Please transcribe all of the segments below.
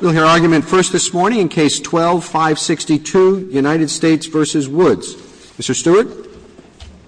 We'll hear argument first this morning in Case 12-562, United States v. Woods. Mr. Stewart.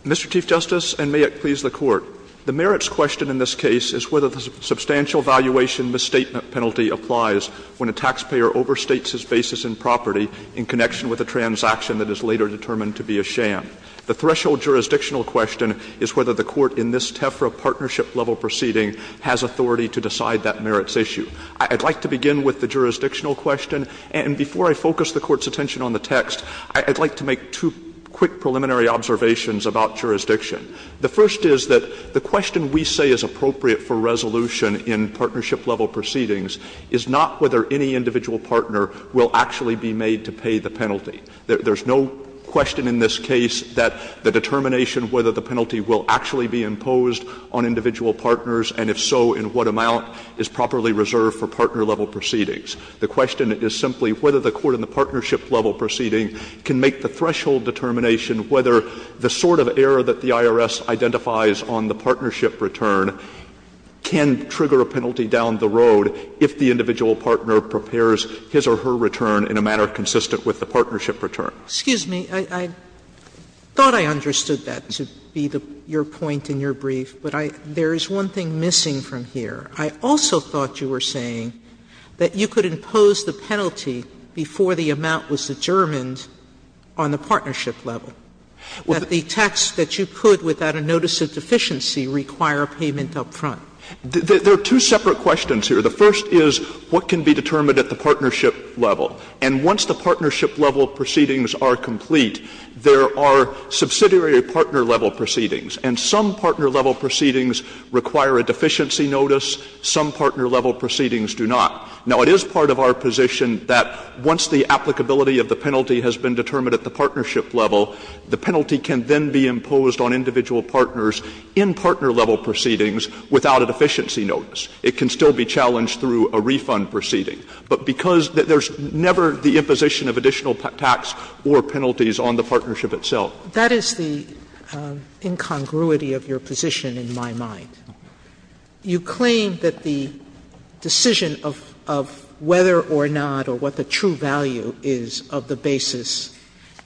Mr. Chief Justice, and may it please the Court, the merits question in this case is whether the substantial valuation misstatement penalty applies when a taxpayer overstates his basis in property in connection with a transaction that is later determined to be a sham. The threshold jurisdictional question is whether the Court in this TEFRA partnership-level proceeding has authority to decide that merits issue. I'd like to begin with the jurisdictional question, and before I focus the Court's attention on the text, I'd like to make two quick preliminary observations about jurisdiction. The first is that the question we say is appropriate for resolution in partnership-level proceedings is not whether any individual partner will actually be made to pay the penalty. There's no question in this case that the determination whether the penalty will actually be imposed on individual partners, and if so, in what amount, is properly reserved for partner-level proceedings. The question is simply whether the Court in the partnership-level proceeding can make the threshold determination whether the sort of error that the IRS identifies on the partnership return can trigger a penalty down the road if the individual partner prepares his or her return in a manner consistent with the partnership return. Sotomayor Excuse me. I thought I understood that to be your point in your brief. But I — there is one thing missing from here. I also thought you were saying that you could impose the penalty before the amount was determined on the partnership level, that the tax that you could without a notice of deficiency require a payment up front. There are two separate questions here. The first is what can be determined at the partnership level. And once the partnership-level proceedings are complete, there are subsidiary partner-level proceedings. And some partner-level proceedings require a deficiency notice. Some partner-level proceedings do not. Now, it is part of our position that once the applicability of the penalty has been determined at the partnership level, the penalty can then be imposed on individual partners in partner-level proceedings without a deficiency notice. It can still be challenged through a refund proceeding. But because there is never the imposition of additional tax or penalties on the partnership itself. Sotomayor, that is the incongruity of your position, in my mind. You claim that the decision of whether or not or what the true value is of the basis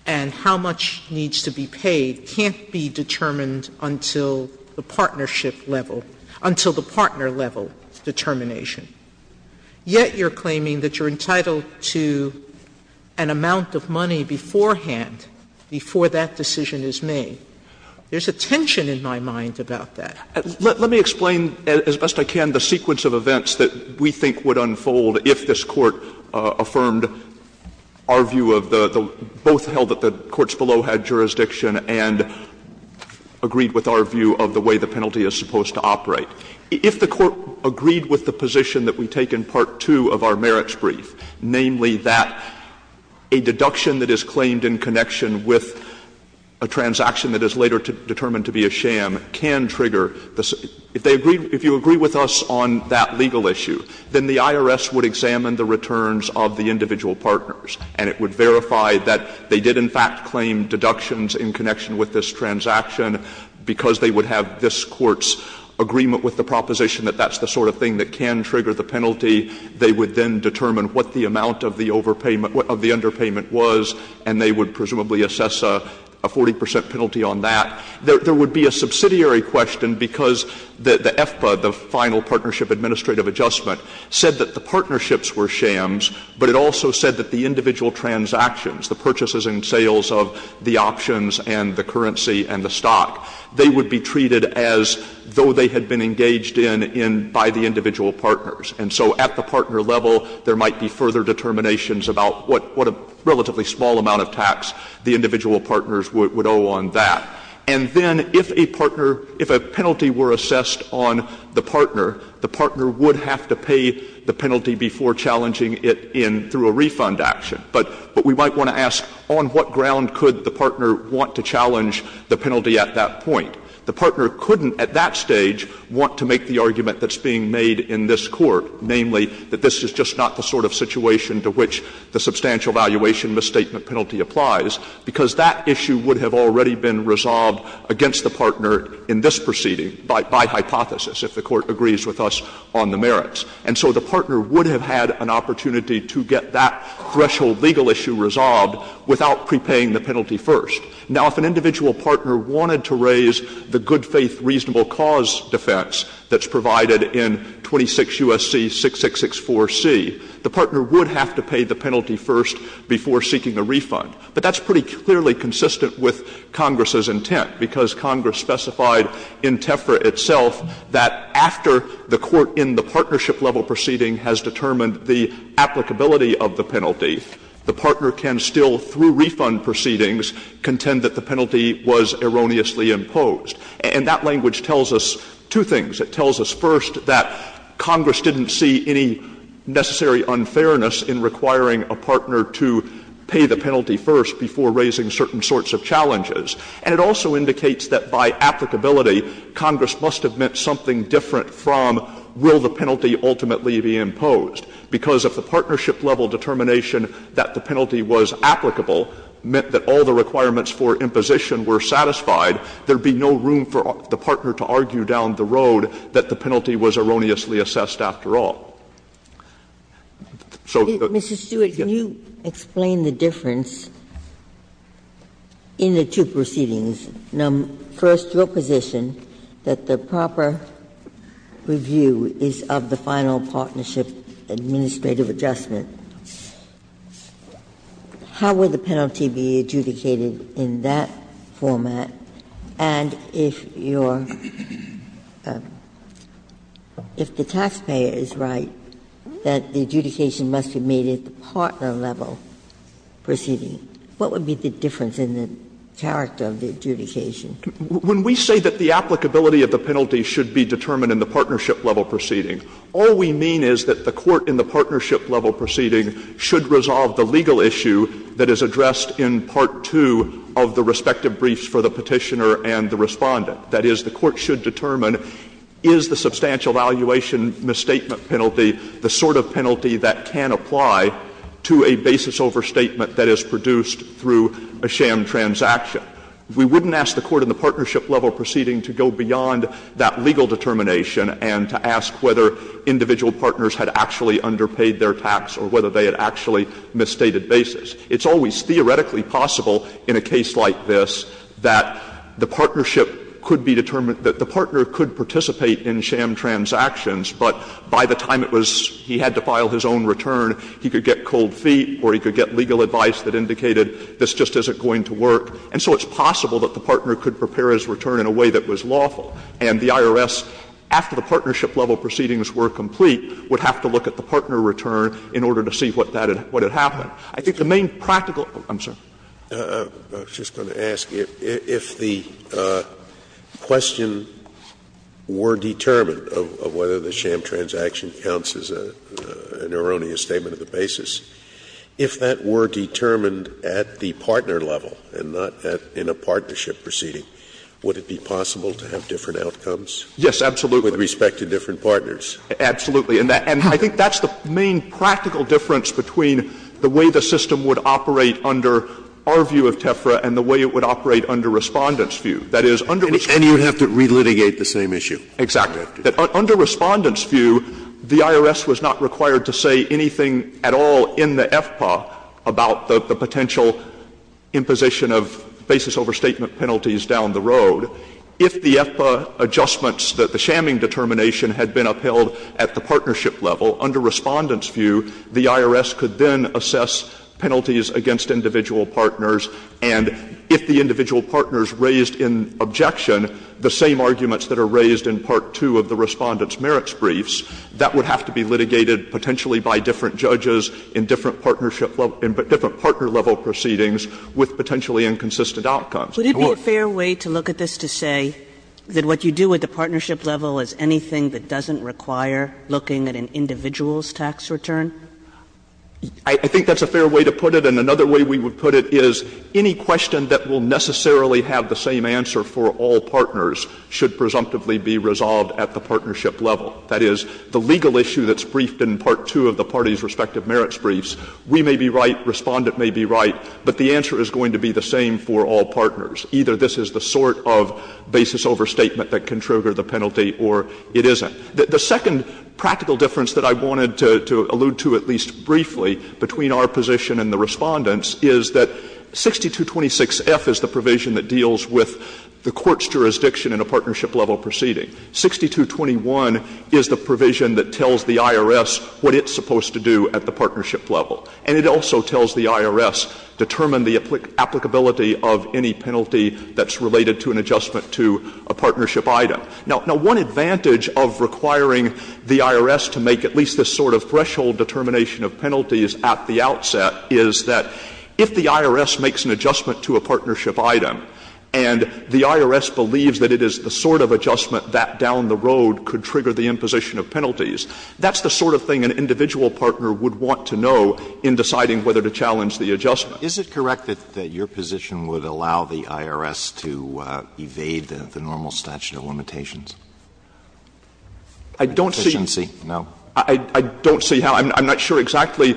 and how much needs to be paid can't be determined until the partnership level — until the partner-level determination. Yet you are claiming that you are entitled to an amount of money beforehand, before that decision is made. There is a tension in my mind about that. Let me explain as best I can the sequence of events that we think would unfold if this Court affirmed our view of the — both held that the courts below had jurisdiction and agreed with our view of the way the penalty is supposed to operate. If the Court agreed with the position that we take in Part 2 of our merits brief, namely, that a deduction that is claimed in connection with a transaction that is later determined to be a sham can trigger the — if they agree — if you agree with us on that legal issue, then the IRS would examine the returns of the individual partners, and it would verify that they did, in fact, claim deductions in connection with this transaction because they would have this Court's agreement with the proposition that that's the sort of thing that can trigger the penalty. They would then determine what the amount of the overpayment — of the underpayment was, and they would presumably assess a 40 percent penalty on that. There would be a subsidiary question because the FPA, the Final Partnership Administrative Adjustment, said that the partnerships were shams, but it also said that the individual transactions, the purchases and sales of the options and the currency and the stock, they would be treated as though they had been engaged in by the individual partners. And so at the partner level, there might be further determinations about what a relatively small amount of tax the individual partners would owe on that. And then if a partner — if a penalty were assessed on the partner, the partner would have to pay the penalty before challenging it in — through a refund action. But we might want to ask, on what ground could the partner want to challenge the penalty at that point? The partner couldn't at that stage want to make the argument that's being made in this Court, namely, that this is just not the sort of situation to which the substantial valuation misstatement penalty applies, because that issue would have already been resolved against the partner in this proceeding by hypothesis, if the Court agrees with us on the merits. And so the partner would have had an opportunity to get that threshold legal issue resolved without prepaying the penalty first. Now, if an individual partner wanted to raise the good-faith reasonable cause defense that's provided in 26 U.S.C. 6664C, the partner would have to pay the penalty first before seeking a refund. But that's pretty clearly consistent with Congress's intent, because Congress specified in TEFRA itself that after the court in the partnership-level proceeding has determined the applicability of the penalty, the partner can still, through refund proceedings, contend that the penalty was erroneously imposed. And that language tells us two things. It tells us, first, that Congress didn't see any necessary unfairness in requiring a partner to pay the penalty first before raising certain sorts of challenges. And it also indicates that by applicability, Congress must have meant something different from will the penalty ultimately be imposed, because if the partnership-level determination that the penalty was applicable meant that all the requirements for imposition were satisfied, there would be no room for the partner to argue down the road that the penalty was erroneously assessed after all. Ginsburg, if the partnership-level proceeding is known first to a position that the proper review is of the final partnership administrative adjustment, how would the penalty be adjudicated in that format? And if your – if the taxpayer is right that the adjudication must be made at the character of the adjudication? When we say that the applicability of the penalty should be determined in the partnership-level proceeding, all we mean is that the court in the partnership-level proceeding should resolve the legal issue that is addressed in Part 2 of the respective briefs for the Petitioner and the Respondent. That is, the court should determine, is the substantial valuation misstatement penalty the sort of penalty that can apply to a basis overstatement that is produced through a sham transaction? We wouldn't ask the court in the partnership-level proceeding to go beyond that legal determination and to ask whether individual partners had actually underpaid their tax or whether they had actually misstated basis. It's always theoretically possible in a case like this that the partnership could be determined – that the partner could participate in sham transactions, but by the time it was – he had to file his own return, he could get cold feet or he could get legal advice that indicated this just isn't going to work. And so it's possible that the partner could prepare his return in a way that was lawful. And the IRS, after the partnership-level proceedings were complete, would have to look at the partner return in order to see what that had – what had happened. I think the main practical – I'm sorry. Scalia, I was just going to ask, if the question were determined of whether the sham transaction counts as an erroneous statement of the basis, if that were determined at the partner level and not in a partnership proceeding, would it be possible to have different outcomes? Yes, absolutely. With respect to different partners? Absolutely. And I think that's the main practical difference between the way the system would operate under our view of TEFRA and the way it would operate under Respondent's view. That is, under Respondent's view. And you would have to relitigate the same issue. Exactly. That under Respondent's view, the IRS was not required to say anything at all in the FPA about the potential imposition of basis overstatement penalties down the road. If the FPA adjustments that the shamming determination had been upheld at the partnership level, under Respondent's view, the IRS could then assess penalties against individual partners, and if the individual partners raised in objection the same arguments that are raised in Part 2 of the Respondent's merits briefs, that would have to be litigated potentially by different judges in different partnership level, in different partner level proceedings with potentially inconsistent outcomes. Would it be a fair way to look at this to say that what you do at the partnership level is anything that doesn't require looking at an individual's tax return? I think that's a fair way to put it, and another way we would put it is, any question that will necessarily have the same answer for all partners should presumptively be resolved at the partnership level. That is, the legal issue that's briefed in Part 2 of the parties' respective merits briefs, we may be right, Respondent may be right, but the answer is going to be the same for all partners. Either this is the sort of basis overstatement that can trigger the penalty or it isn't. The second practical difference that I wanted to allude to at least briefly between our position and the Respondent's is that 6226F is the provision that deals with the court's jurisdiction in a partnership level proceeding. 6221 is the provision that tells the IRS what it's supposed to do at the partnership level. And it also tells the IRS, determine the applicability of any penalty that's related to an adjustment to a partnership item. Now, one advantage of requiring the IRS to make at least this sort of threshold of determination of penalties at the outset is that if the IRS makes an adjustment to a partnership item and the IRS believes that it is the sort of adjustment that down the road could trigger the imposition of penalties, that's the sort of thing an individual partner would want to know in deciding whether to challenge the adjustment. Alitoso, is it correct that your position would allow the IRS to evade the normal statute of limitations? I don't see. I don't see how. I'm not sure exactly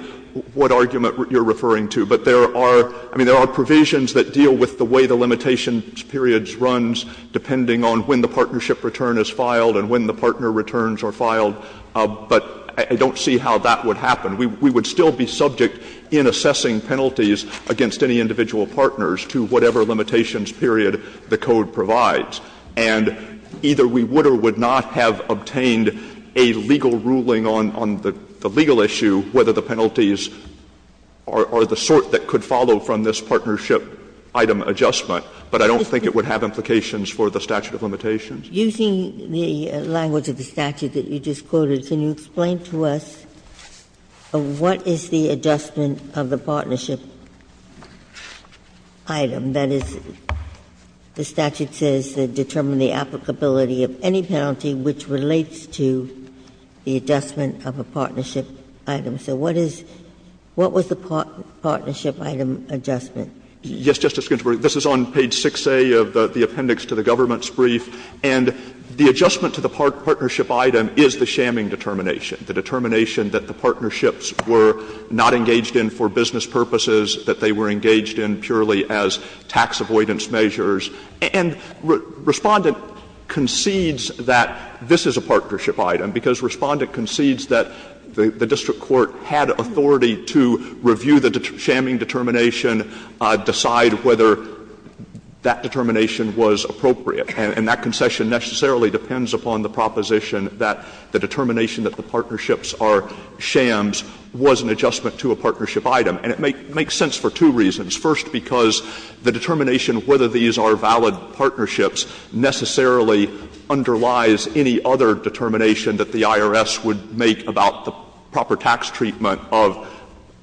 what argument you're referring to, but there are – I mean, there are provisions that deal with the way the limitations periods runs depending on when the partnership return is filed and when the partner returns are filed, but I don't see how that would happen. We would still be subject in assessing penalties against any individual partners to whatever limitations period the Code provides. And either we would or would not have obtained a legal ruling on the legal issue, whether the penalties are the sort that could follow from this partnership item adjustment, but I don't think it would have implications for the statute of limitations. Using the language of the statute that you just quoted, can you explain to us what is the adjustment of the partnership item? That is, the statute says to determine the applicability of any penalty which relates to the adjustment of a partnership item. So what is – what was the partnership item adjustment? Yes, Justice Ginsburg. This is on page 6A of the appendix to the government's brief, and the adjustment to the partnership item is the shamming determination, the determination that the partnerships were not engaged in for business purposes, that they were engaged in purely as tax avoidance measures. And Respondent concedes that this is a partnership item, because Respondent concedes that the district court had authority to review the shamming determination, decide whether that determination was appropriate. And that concession necessarily depends upon the proposition that the determination that the partnerships are shams was an adjustment to a partnership item. And it makes sense for two reasons. First, because the determination whether these are valid partnerships necessarily underlies any other determination that the IRS would make about the proper tax treatment of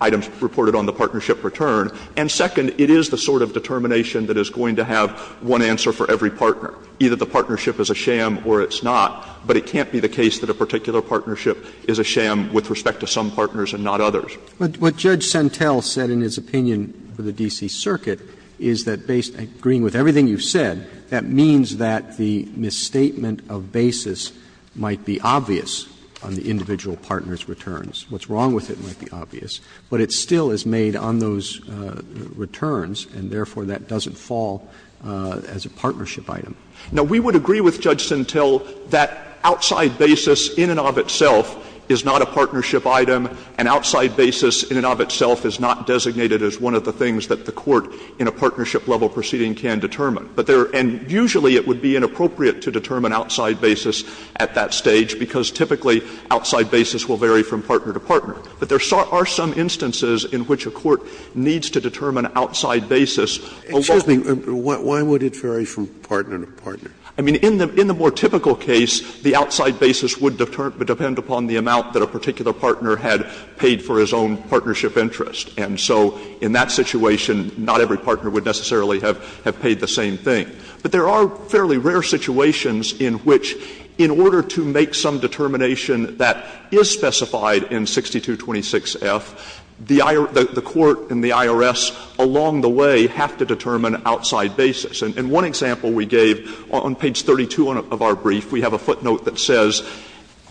items reported on the partnership return. And second, it is the sort of determination that is going to have one answer for every partner. Either the partnership is a sham or it's not, but it can't be the case that a particular partnership is a sham with respect to some partners and not others. Roberts What Judge Sentel said in his opinion for the D.C. Circuit is that based on agreeing with everything you've said, that means that the misstatement of basis might be obvious on the individual partner's returns. What's wrong with it might be obvious, but it still is made on those returns, and therefore that doesn't fall as a partnership item. Now, we would agree with Judge Sentel that outside basis in and of itself is not a partnership item, and outside basis in and of itself is not designated as one of the things that the court in a partnership-level proceeding can determine. And usually it would be inappropriate to determine outside basis at that stage, because typically outside basis will vary from partner to partner. But there are some instances in which a court needs to determine outside basis. Scalia Excuse me. Why would it vary from partner to partner? Roberts I mean, in the more typical case, the outside basis would depend upon the amount that a particular partner had paid for his own partnership interest. And so in that situation, not every partner would necessarily have paid the same thing. But there are fairly rare situations in which, in order to make some determination that is specified in 6226F, the court and the IRS along the way have to determine outside basis. And one example we gave on page 32 of our brief, we have a footnote that says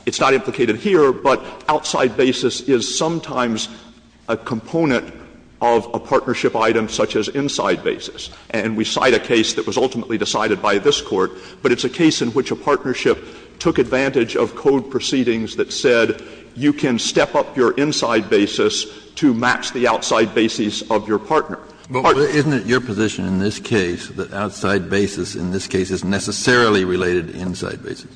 it's not implicated here, but outside basis is sometimes a component of a partnership item such as inside basis. And we cite a case that was ultimately decided by this Court, but it's a case in which a partnership took advantage of code proceedings that said you can step up your inside basis to match the outside basis of your partner. Kennedy But isn't it your position in this case that outside basis in this case is necessarily related to inside basis?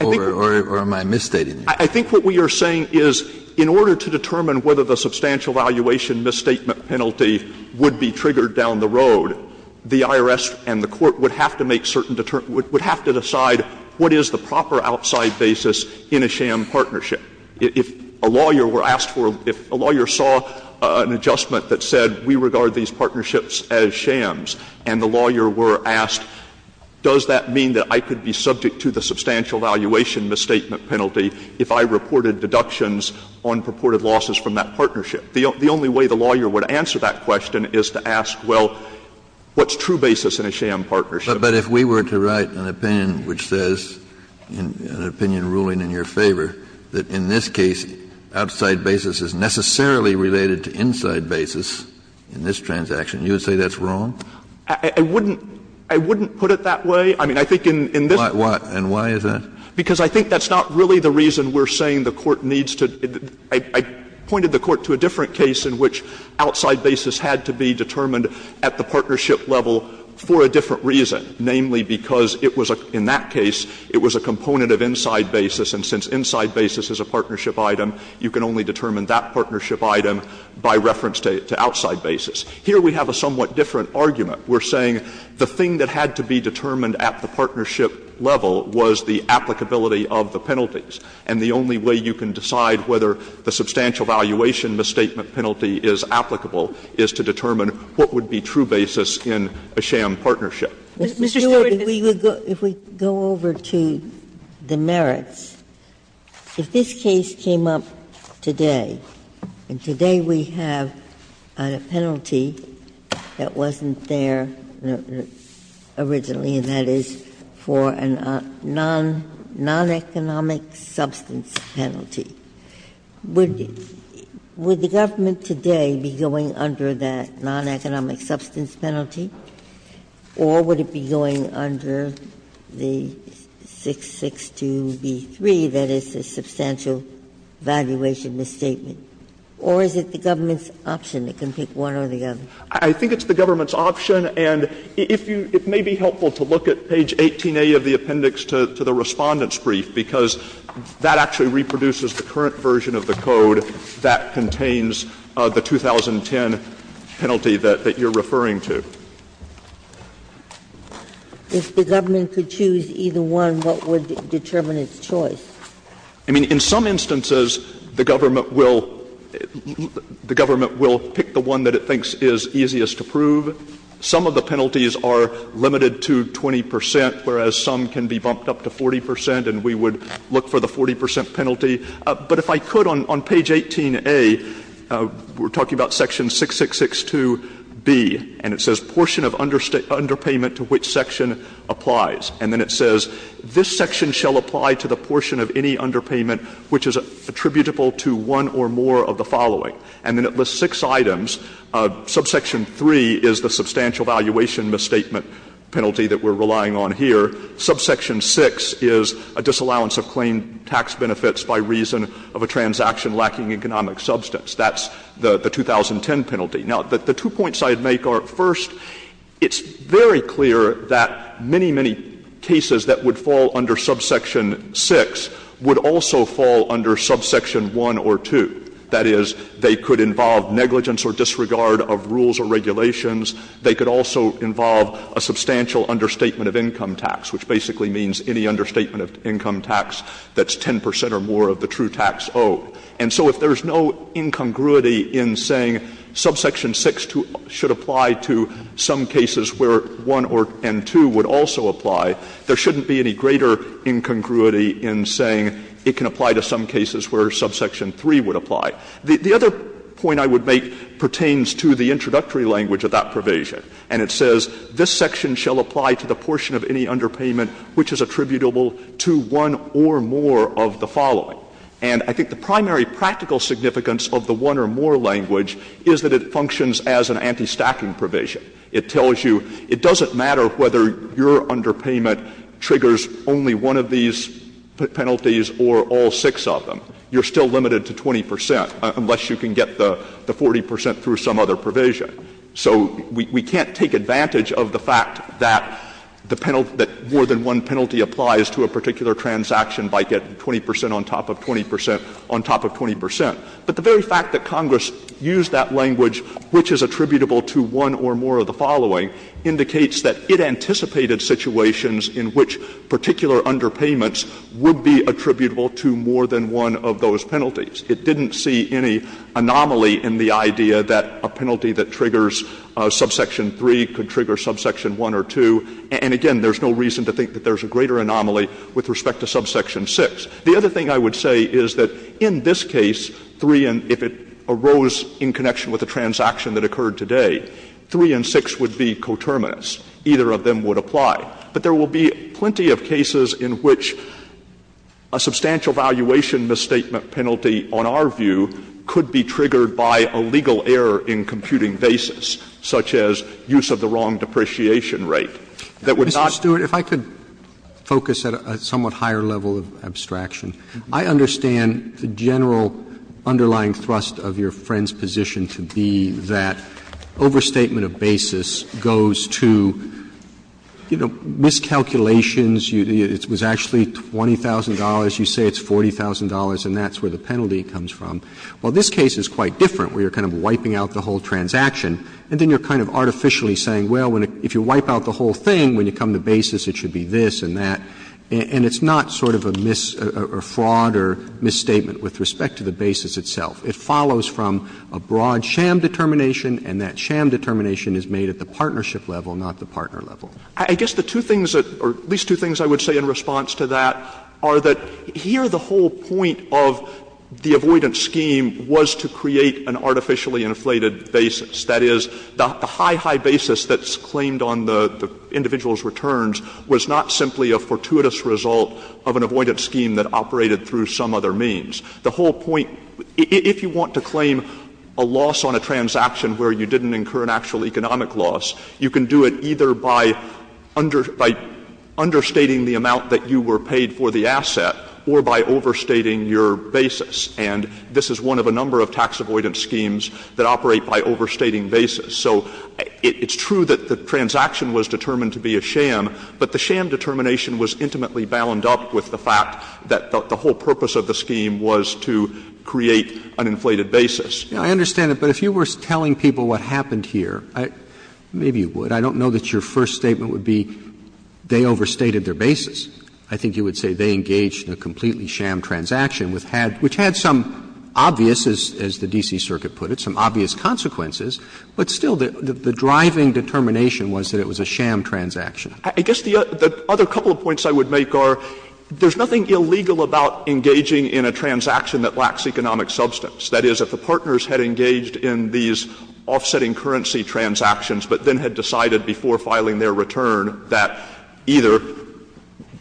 Or am I misstating you? Stewart I think what we are saying is in order to determine whether the substantial valuation misstatement penalty would be triggered down the road, the IRS and the court would have to make certain determinations, would have to decide what is the proper outside basis in a sham partnership. If a lawyer were asked for or if a lawyer saw an adjustment that said we regard these partnerships as shams and the lawyer were asked, does that mean that I could be subject to the substantial valuation misstatement penalty if I reported deductions on purported losses from that partnership? The only way the lawyer would answer that question is to ask, well, what's true basis in a sham partnership? Kennedy But if we were to write an opinion which says, an opinion ruling in your favor, that in this case outside basis is necessarily related to inside basis in this transaction, you would say that's wrong? Stewart I wouldn't put it that way. I mean, I think in this case Kennedy Why? And why is that? Stewart Because I think that's not really the reason we're saying the court needs to — I pointed the court to a different case in which outside basis had to be determined at the partnership level for a different reason, namely because it was a — in that case, it was a component of inside basis, and since inside basis is a partnership item, you can only determine that partnership item by reference to outside basis. Here we have a somewhat different argument. We're saying the thing that had to be determined at the partnership level was the applicability of the penalties, and the only way you can decide whether the substantial valuation misstatement penalty is applicable is to determine what would be true basis in a sham partnership. Ginsburg Mr. Stewart, if we go over to the merits, if this case came up today, and today we have a penalty that wasn't there originally, and that is for a non-economic substance penalty, would the government today be going under that non-economic substance penalty, or would it be going under the 662b3, that is, the substantial valuation misstatement? Or is it the government's option? It can pick one or the other. Stewart I think it's the government's option, and if you — it may be helpful to look at page 18a of the appendix to the Respondent's brief, because that actually reproduces the current version of the code that contains the 2010 penalty that you're referring to. Ginsburg If the government could choose either one, what would determine its choice? Stewart I mean, in some instances, the government will pick the one that it thinks is easiest to prove. Some of the penalties are limited to 20 percent, whereas some can be bumped up to 40 percent, and we would look for the 40 percent penalty. But if I could, on page 18a, we're talking about section 6662b, and it says, And then it lists six items. Subsection 3 is the substantial valuation misstatement penalty that we're relying on here. Subsection 6 is a disallowance of claim tax benefits by reason of a transaction lacking economic substance. That's the 2010 penalty. Now, the two points I'd make are, first, it's very clear that many, many cases that would fall under subsection 6 would also fall under subsection 1 or 2. That is, they could involve negligence or disregard of rules or regulations. They could also involve a substantial understatement of income tax, which basically means any understatement of income tax that's 10 percent or more of the true tax owed. And so if there's no incongruity in saying subsection 6 should apply to some cases where 1 and 2 would also apply, there shouldn't be any greater incongruity in saying it can apply to some cases where subsection 3 would apply. The other point I would make pertains to the introductory language of that provision, and it says, This section shall apply to the portion of any underpayment which is attributable to one or more of the following. And I think the primary practical significance of the one or more language is that it functions as an anti-stacking provision. It tells you it doesn't matter whether your underpayment triggers only one of these penalties or all six of them. You're still limited to 20 percent, unless you can get the 40 percent through some other provision. So we can't take advantage of the fact that the penalty that more than one penalty applies to a particular transaction by getting 20 percent on top of 20 percent on top of 20 percent. But the very fact that Congress used that language, which is attributable to one or more of the following, indicates that it anticipated situations in which particular underpayments would be attributable to more than one of those penalties. It didn't see any anomaly in the idea that a penalty that triggers subsection 3 could trigger subsection 1 or 2. And again, there's no reason to think that there's a greater anomaly with respect to subsection 6. The other thing I would say is that in this case, 3 and — if it arose in connection with a transaction that occurred today, 3 and 6 would be coterminous. Either of them would apply. But there will be plenty of cases in which a substantial valuation misstatement penalty, on our view, could be triggered by a legal error in computing basis, such as use of the wrong depreciation rate. That would not be the case. Roberts, Mr. Stewart, if I could focus at a somewhat higher level of abstraction. I understand the general underlying thrust of your friend's position to be that overstatement of basis goes to, you know, miscalculations, it was actually $20,000, you say it's $40,000, and that's where the penalty comes from. Well, this case is quite different, where you're kind of wiping out the whole transaction. And then you're kind of artificially saying, well, if you wipe out the whole thing, when you come to basis, it should be this and that. And it's not sort of a mis- or fraud or misstatement with respect to the basis itself. It follows from a broad sham determination, and that sham determination is made at the partnership level, not the partner level. I guess the two things that — or at least two things I would say in response to that are that here the whole point of the avoidance scheme was to create an artificially inflated basis, that is, the high, high basis that's claimed on the individual's returns was not simply a fortuitous result of an avoidance scheme that operated through some other means. The whole point — if you want to claim a loss on a transaction where you didn't incur an actual economic loss, you can do it either by under — by understating the amount that you were paid for the asset or by overstating your basis. And this is one of a number of tax avoidance schemes that operate by overstating basis. So it's true that the transaction was determined to be a sham, but the sham determination was intimately bound up with the fact that the whole purpose of the scheme was to create an inflated basis. Roberts. I understand it, but if you were telling people what happened here, maybe you would. I don't know that your first statement would be they overstated their basis. I think you would say they engaged in a completely sham transaction, which had some obvious, as the D.C. Circuit put it, some obvious consequences, but still the driving determination was that it was a sham transaction. I guess the other couple of points I would make are there's nothing illegal about engaging in a transaction that lacks economic substance. That is, if the partners had engaged in these offsetting currency transactions but then had decided before filing their return that either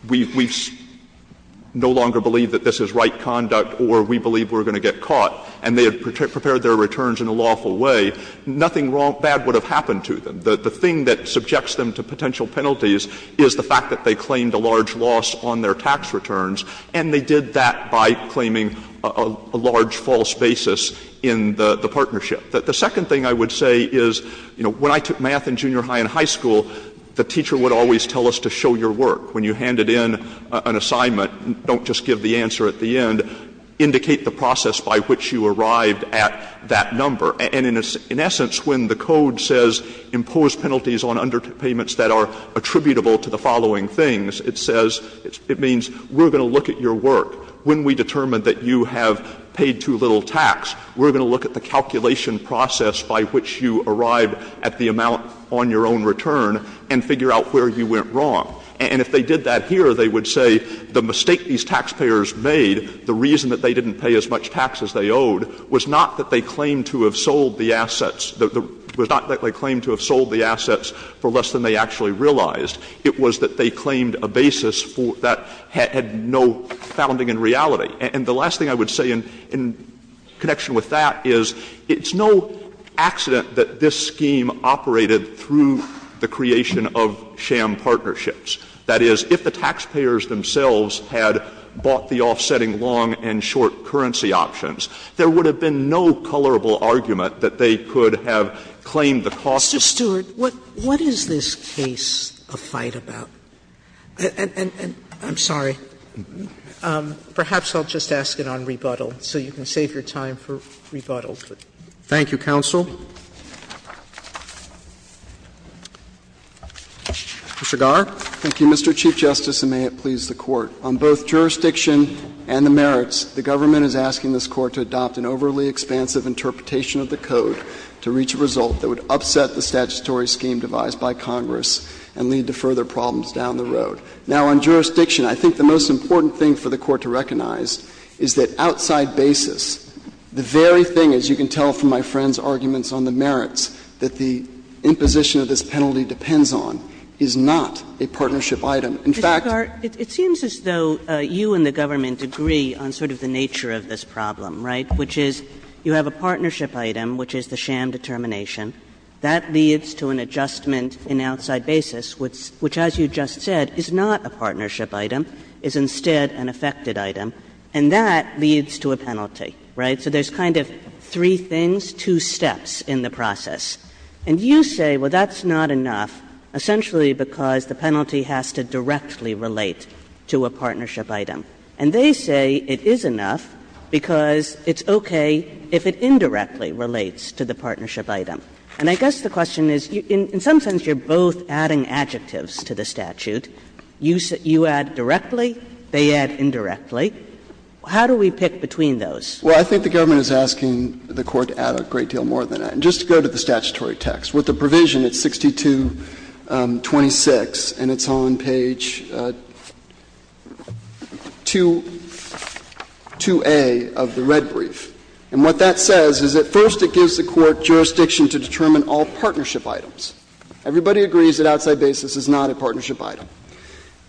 we no longer believe that this is right conduct or we believe we're going to get caught, and they had prepared their returns in a lawful way, nothing bad would have happened to them. The thing that subjects them to potential penalties is the fact that they claimed a large loss on their tax returns, and they did that by claiming a large false basis in the partnership. The second thing I would say is, you know, when I took math in junior high and high school, the teacher would always tell us to show your work. When you handed in an assignment, don't just give the answer at the end. Indicate the process by which you arrived at that number. And in essence, when the Code says impose penalties on underpayments that are attributable to the following things, it says it means we're going to look at your work. When we determine that you have paid too little tax, we're going to look at the calculation process by which you arrived at the amount on your own return and figure out where you went wrong. And if they did that here, they would say the mistake these taxpayers made, the reason that they didn't pay as much tax as they owed, was not that they claimed to have sold the assets, was not that they claimed to have sold the assets for less than they actually realized. It was that they claimed a basis that had no founding in reality. And the last thing I would say in connection with that is it's no accident that this scheme operated through the creation of sham partnerships. That is, if the taxpayers themselves had bought the offsetting long and short currency options, there would have been no colorable argument that they could have claimed the cost. Sotomayor, what is this case a fight about? And I'm sorry. Perhaps I'll just ask it on rebuttal, so you can save your time for rebuttal. Thank you, counsel. Mr. Garre. Thank you, Mr. Chief Justice, and may it please the Court. On both jurisdiction and the merits, the government is asking this Court to adopt an overly expansive interpretation of the code to reach a result that would upset the statutory scheme devised by Congress and lead to further problems down the road. Now, on jurisdiction, I think the most important thing for the Court to recognize is that outside basis, the very thing, as you can tell from my friend's arguments on the merits, that the imposition of this penalty depends on is not a partnership item. In fact — Mr. Garre, it seems as though you and the government agree on sort of the nature of this problem, right, which is you have a partnership item, which is the sham determination, that leads to an adjustment in outside basis, which, as you just said, is not a partnership item, is instead an affected item, and that leads to a penalty, right? So there's kind of three things, two steps in the process. And you say, well, that's not enough, essentially because the penalty has to directly relate to a partnership item. And they say it is enough because it's okay if it indirectly relates to the partnership item. And I guess the question is, in some sense you're both adding adjectives to the statute. You add directly, they add indirectly. How do we pick between those? Garre, I think the government is asking the Court to add a great deal more than that. And just to go to the statutory text, with the provision, it's 6226, and it's on page 2a of the red brief. And what that says is at first it gives the Court jurisdiction to determine all partnership items. Everybody agrees that outside basis is not a partnership item.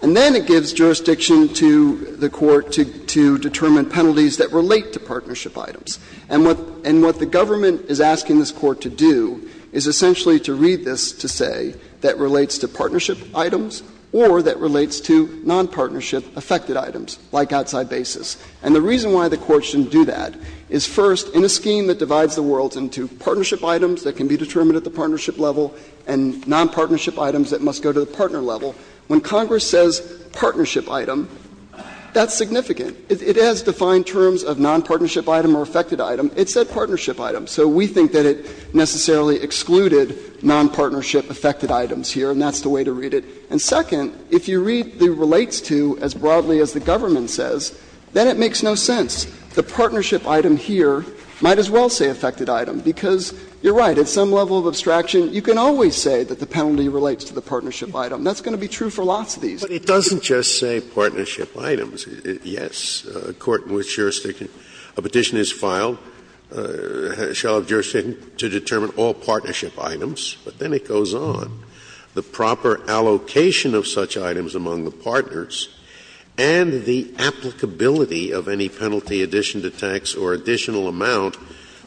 And then it gives jurisdiction to the Court to determine penalties that relate to partnership items. And what the government is asking this Court to do is essentially to read this to say that relates to partnership items or that relates to nonpartnership affected items, like outside basis. And the reason why the Court shouldn't do that is, first, in a scheme that divides the world into partnership items that can be determined at the partnership level and nonpartnership items that must go to the partner level, when Congress says partnership item, that's significant. It has defined terms of nonpartnership item or affected item. It said partnership item. So we think that it necessarily excluded nonpartnership affected items here, and that's the way to read it. And second, if you read the relates to as broadly as the government says, then it makes no sense. The partnership item here might as well say affected item, because you're right, at some level of abstraction you can always say that the penalty relates to the partnership item. That's going to be true for lots of these. Scalia But it doesn't just say partnership items. Yes, a court in which jurisdiction, a petition is filed shall have jurisdiction to determine all partnership items. But then it goes on. The proper allocation of such items among the partners and the applicability of any penalty addition to tax or additional amount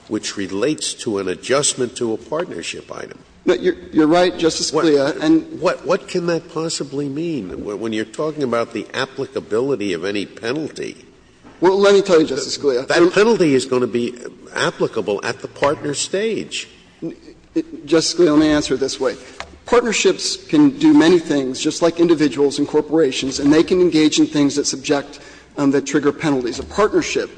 which relates to an adjustment to a partnership item. You're right, Justice Scalia. And what can that possibly mean when you're talking about the applicability of any penalty? Well, let me tell you, Justice Scalia. That penalty is going to be applicable at the partner stage. Justice Scalia, let me answer it this way. Partnerships can do many things, just like individuals and corporations, and they can engage in things that subject or that trigger penalties. A partnership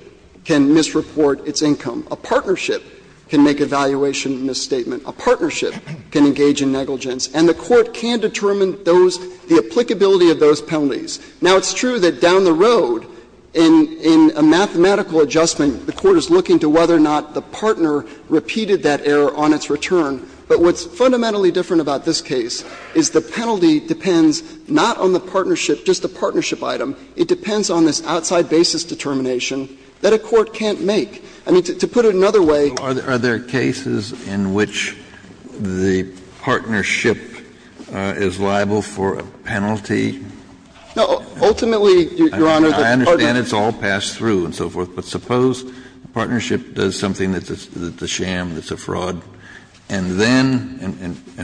can misreport its income. A partnership can make a valuation misstatement. A partnership can engage in negligence. And the Court can determine those, the applicability of those penalties. Now, it's true that down the road in a mathematical adjustment, the Court is looking to whether or not the partner repeated that error on its return. But what's fundamentally different about this case is the penalty depends not on the partnership, just the partnership item. It depends on this outside basis determination that a court can't make. I mean, to put it another way. Kennedy, are there cases in which the partnership is liable for a penalty? Kennedy, are there cases in which the partnership does something that's a sham, that's a fraud, and then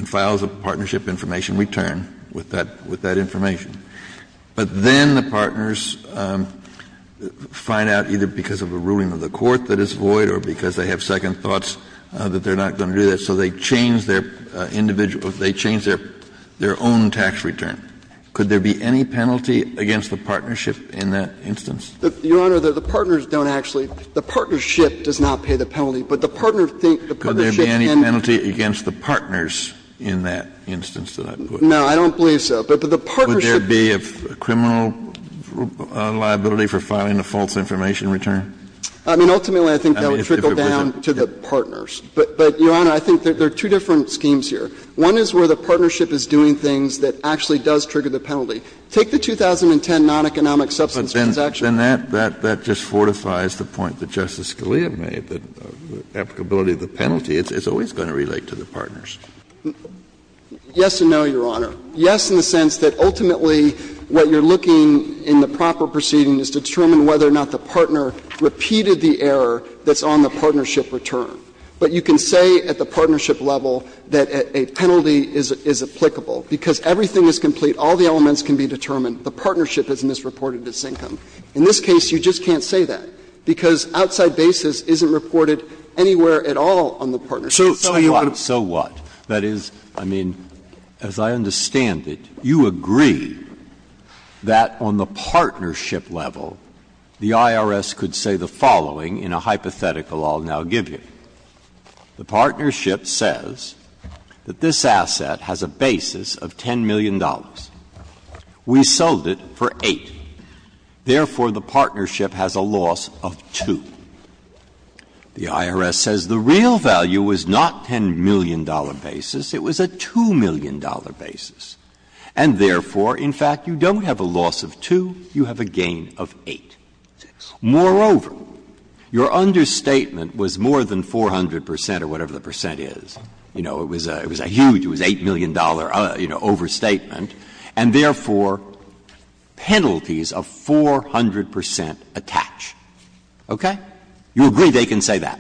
files a partnership information return with that information, but then the partners find out, either because of a ruling of the court that is void or because they have second thoughts that they're not going to do that, so they change their individual or they change their own tax return? Could there be any penalty against the partnership in that instance? Your Honor, the partners don't actually – the partnership does not pay the penalty, but the partner thinks the partnership can't. Kennedy, could there be any penalty against the partners in that instance that I put in? No, I don't believe so. But the partnership. Would there be a criminal liability for filing a false information return? I mean, ultimately, I think that would trickle down to the partners. But, Your Honor, I think there are two different schemes here. One is where the partnership is doing things that actually does trigger the penalty. Take the 2010 non-economic substance transaction. And that just fortifies the point that Justice Scalia made, that applicability of the penalty is always going to relate to the partners. Yes and no, Your Honor. Yes in the sense that ultimately what you're looking in the proper proceeding is to determine whether or not the partner repeated the error that's on the partnership return. But you can say at the partnership level that a penalty is applicable, because everything is complete, all the elements can be determined, the partnership has misreported its income. In this case, you just can't say that, because outside basis isn't reported anywhere at all on the partnership. So you would have to say that. Breyer. So what? That is, I mean, as I understand it, you agree that on the partnership level, the IRS could say the following in a hypothetical I'll now give you. The partnership says that this asset has a basis of $10 million. We sold it for 8. Therefore, the partnership has a loss of 2. The IRS says the real value was not $10 million basis, it was a $2 million basis. And therefore, in fact, you don't have a loss of 2, you have a gain of 8. Moreover, your understatement was more than 400 percent or whatever the percent is. You know, it was a huge, it was $8 million overstatement. And therefore, penalties of 400 percent attach. Okay? You agree they can say that?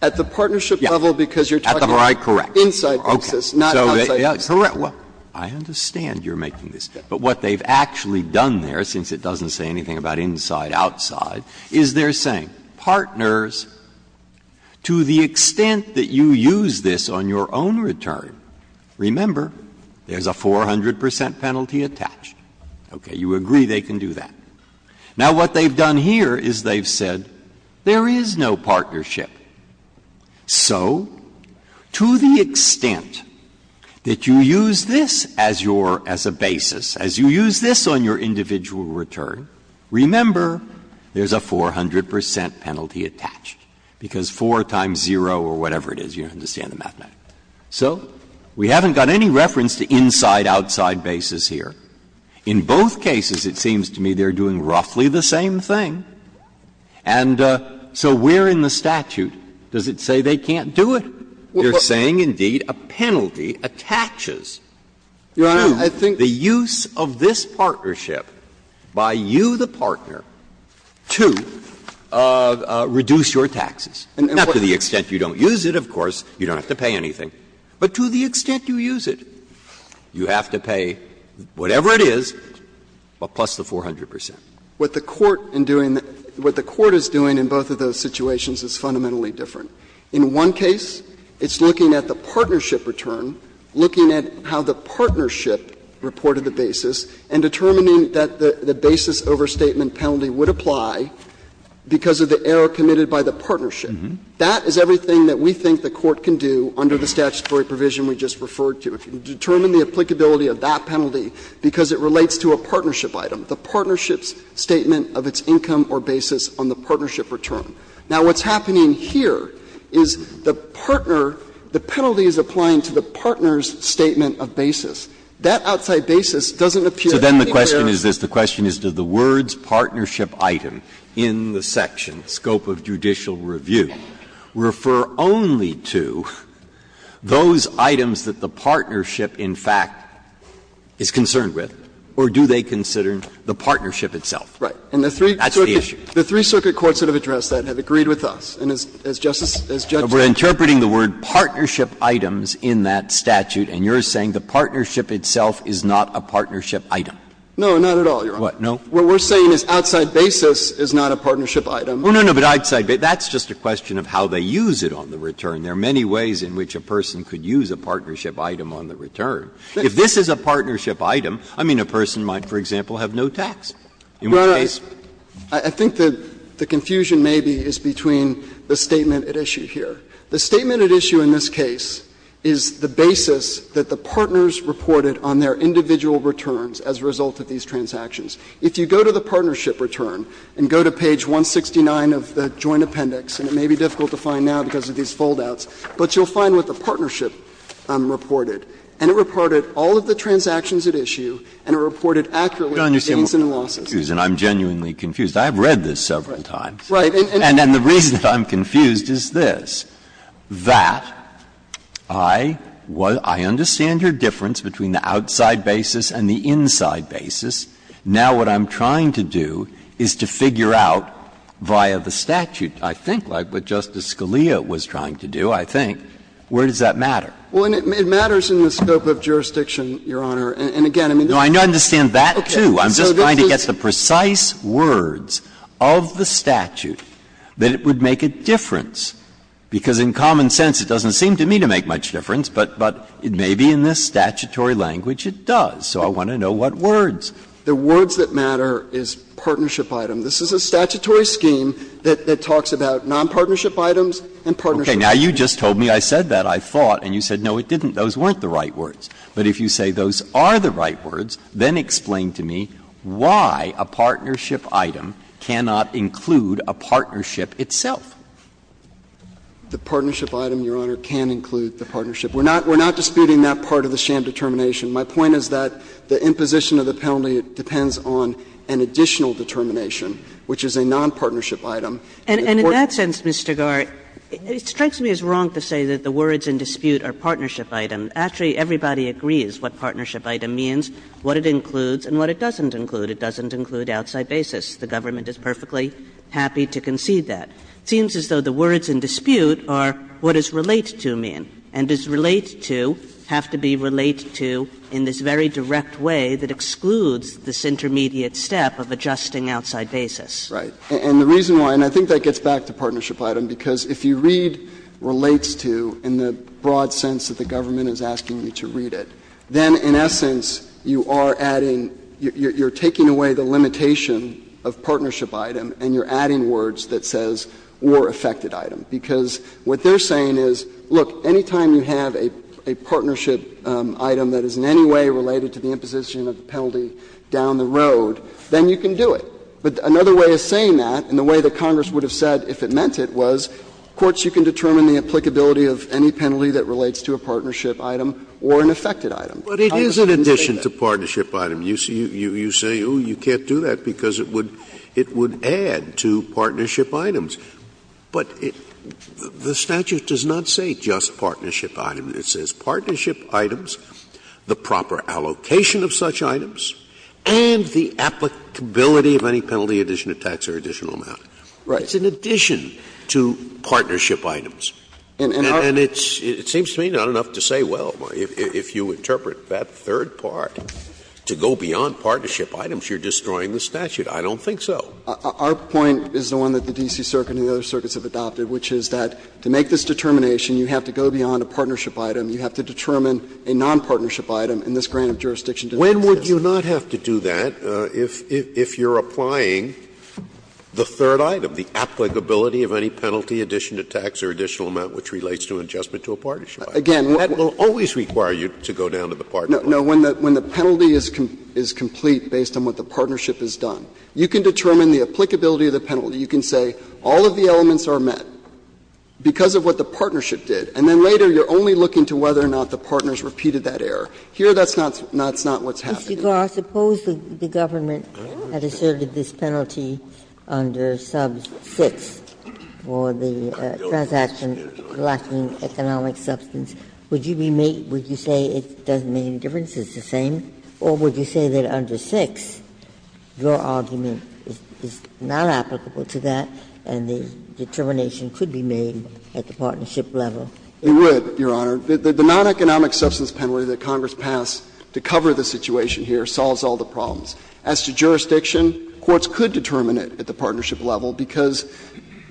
At the partnership level, because you're talking about inside basis, not outside basis. Correct. I understand you're making this, but what they've actually done there, since it doesn't say anything about inside, outside, is they're saying, partners, to the extent that you use this on your own return, remember, there's a 400 percent penalty attached. Okay. You agree they can do that? Now, what they've done here is they've said there is no partnership. So to the extent that you use this as your, as a basis, as you use this on your individual return, remember, there's a 400 percent penalty attached, because 4 times 0 or whatever it is, you understand the mathematics. So we haven't got any reference to inside, outside basis here. In both cases, it seems to me they're doing roughly the same thing. And so where in the statute does it say they can't do it? They're saying, indeed, a penalty attaches to the use of this partnership by you, the partner, to reduce your taxes. Not to the extent you don't use it, of course. You don't have to pay anything. But to the extent you use it, you have to pay whatever it is, plus the 400 percent. What the Court in doing, what the Court is doing in both of those situations is fundamentally different. In one case, it's looking at the partnership return, looking at how the partnership reported the basis, and determining that the basis overstatement penalty would apply because of the error committed by the partnership. That is everything that we think the Court can do under the statutory provision we just referred to. It can determine the applicability of that penalty because it relates to a partnership item, the partnership's statement of its income or basis on the partnership return. Now, what's happening here is the partner, the penalty is applying to the partner's statement of basis. That outside basis doesn't appear anywhere. Breyer. The question is this. The question is, do the words partnership item in the section, scope of judicial review, refer only to those items that the partnership, in fact, is concerned with, or do they consider the partnership itself? Right. And the three circuit courts that have addressed that have agreed with us. And as Justice as Judges. But we're interpreting the word partnership items in that statute, and you're saying the partnership itself is not a partnership item. No, not at all, Your Honor. What, no? What we're saying is outside basis is not a partnership item. Oh, no, no, but outside basis, that's just a question of how they use it on the return. There are many ways in which a person could use a partnership item on the return. If this is a partnership item, I mean, a person might, for example, have no tax. In which case? I think the confusion maybe is between the statement at issue here. The statement at issue in this case is the basis that the partners reported on their individual returns as a result of these transactions. If you go to the partnership return and go to page 169 of the joint appendix, and it may be difficult to find now because of these foldouts, but you'll find what the partnership reported, and it reported all of the transactions at issue, and it reported accurately gains and losses. Breyer, excuse me, I'm genuinely confused. I've read this several times. Right. And the reason that I'm confused is this, that I understand your difference between the outside basis and the inside basis. Now what I'm trying to do is to figure out via the statute, I think, like what Justice Scalia was trying to do, I think, where does that matter? Well, it matters in the scope of jurisdiction, Your Honor, and again, I mean, this is. No, I understand that, too. I'm just trying to get the precise words of the statute that it would make a difference, because in common sense it doesn't seem to me to make much difference, but it may be in this statutory language it does. So I want to know what words. The words that matter is partnership item. This is a statutory scheme that talks about nonpartnership items and partnership items. Okay. Now you just told me I said that, I thought, and you said, no, it didn't. Those weren't the right words. But if you say those are the right words, then explain to me why a partnership item cannot include a partnership itself. The partnership item, Your Honor, can include the partnership. We're not disputing that part of the sham determination. My point is that the imposition of the penalty depends on an additional determination, which is a nonpartnership item. And in that sense, Mr. Garre, it strikes me as wrong to say that the words in dispute are partnership item. Actually, everybody agrees what partnership item means, what it includes, and what it doesn't include. It doesn't include outside basis. The government is perfectly happy to concede that. It seems as though the words in dispute are what does relate to mean. And does relate to have to be relate to in this very direct way that excludes this intermediate step of adjusting outside basis. Garre, and the reason why, and I think that gets back to partnership item, because if you read relates to in the broad sense that the government is asking you to read it, then in essence you are adding, you're taking away the limitation of partnership item and you're adding words that says or affected item. Because what they're saying is, look, any time you have a partnership item that is in any way related to the imposition of the penalty down the road, then you can do it. But another way of saying that, and the way that Congress would have said if it meant it was, courts, you can determine the applicability of any penalty that relates to a partnership item or an affected item. Scalia, I understand that. Scalia, but it is an addition to partnership item. You say, oh, you can't do that, because it would add to partnership items. But the statute does not say just partnership item. It says partnership items, the proper allocation of such items, and the applicability of any penalty in addition to tax or additional amount. It's in addition to partnership items. And it seems to me not enough to say, well, if you interpret that third part to go beyond partnership items, you're destroying the statute. I don't think so. Our point is the one that the D.C. Circuit and the other circuits have adopted, which is that to make this determination, you have to go beyond a partnership item. You have to determine a nonpartnership item in this grant of jurisdiction to the justice system. Scalia, when would you not have to do that if you're applying the third item, the applicability of any penalty in addition to tax or additional amount which relates to an adjustment to a partnership item? That will always require you to go down to the partnership. No. When the penalty is complete based on what the partnership has done, you can determine the applicability of the penalty. You can say all of the elements are met because of what the partnership did, and then later you're only looking to whether or not the partners repeated that error. Here, that's not what's happening. Ginsburg, suppose the government had asserted this penalty under sub 6 for the transaction lacking economic substance, would you be made to say it doesn't make any difference, it's the same, or would you say that under 6, your argument is not applicable to that and the determination could be made at the partnership level? It would, Your Honor. The non-economic substance penalty that Congress passed to cover the situation here solves all the problems. As to jurisdiction, courts could determine it at the partnership level because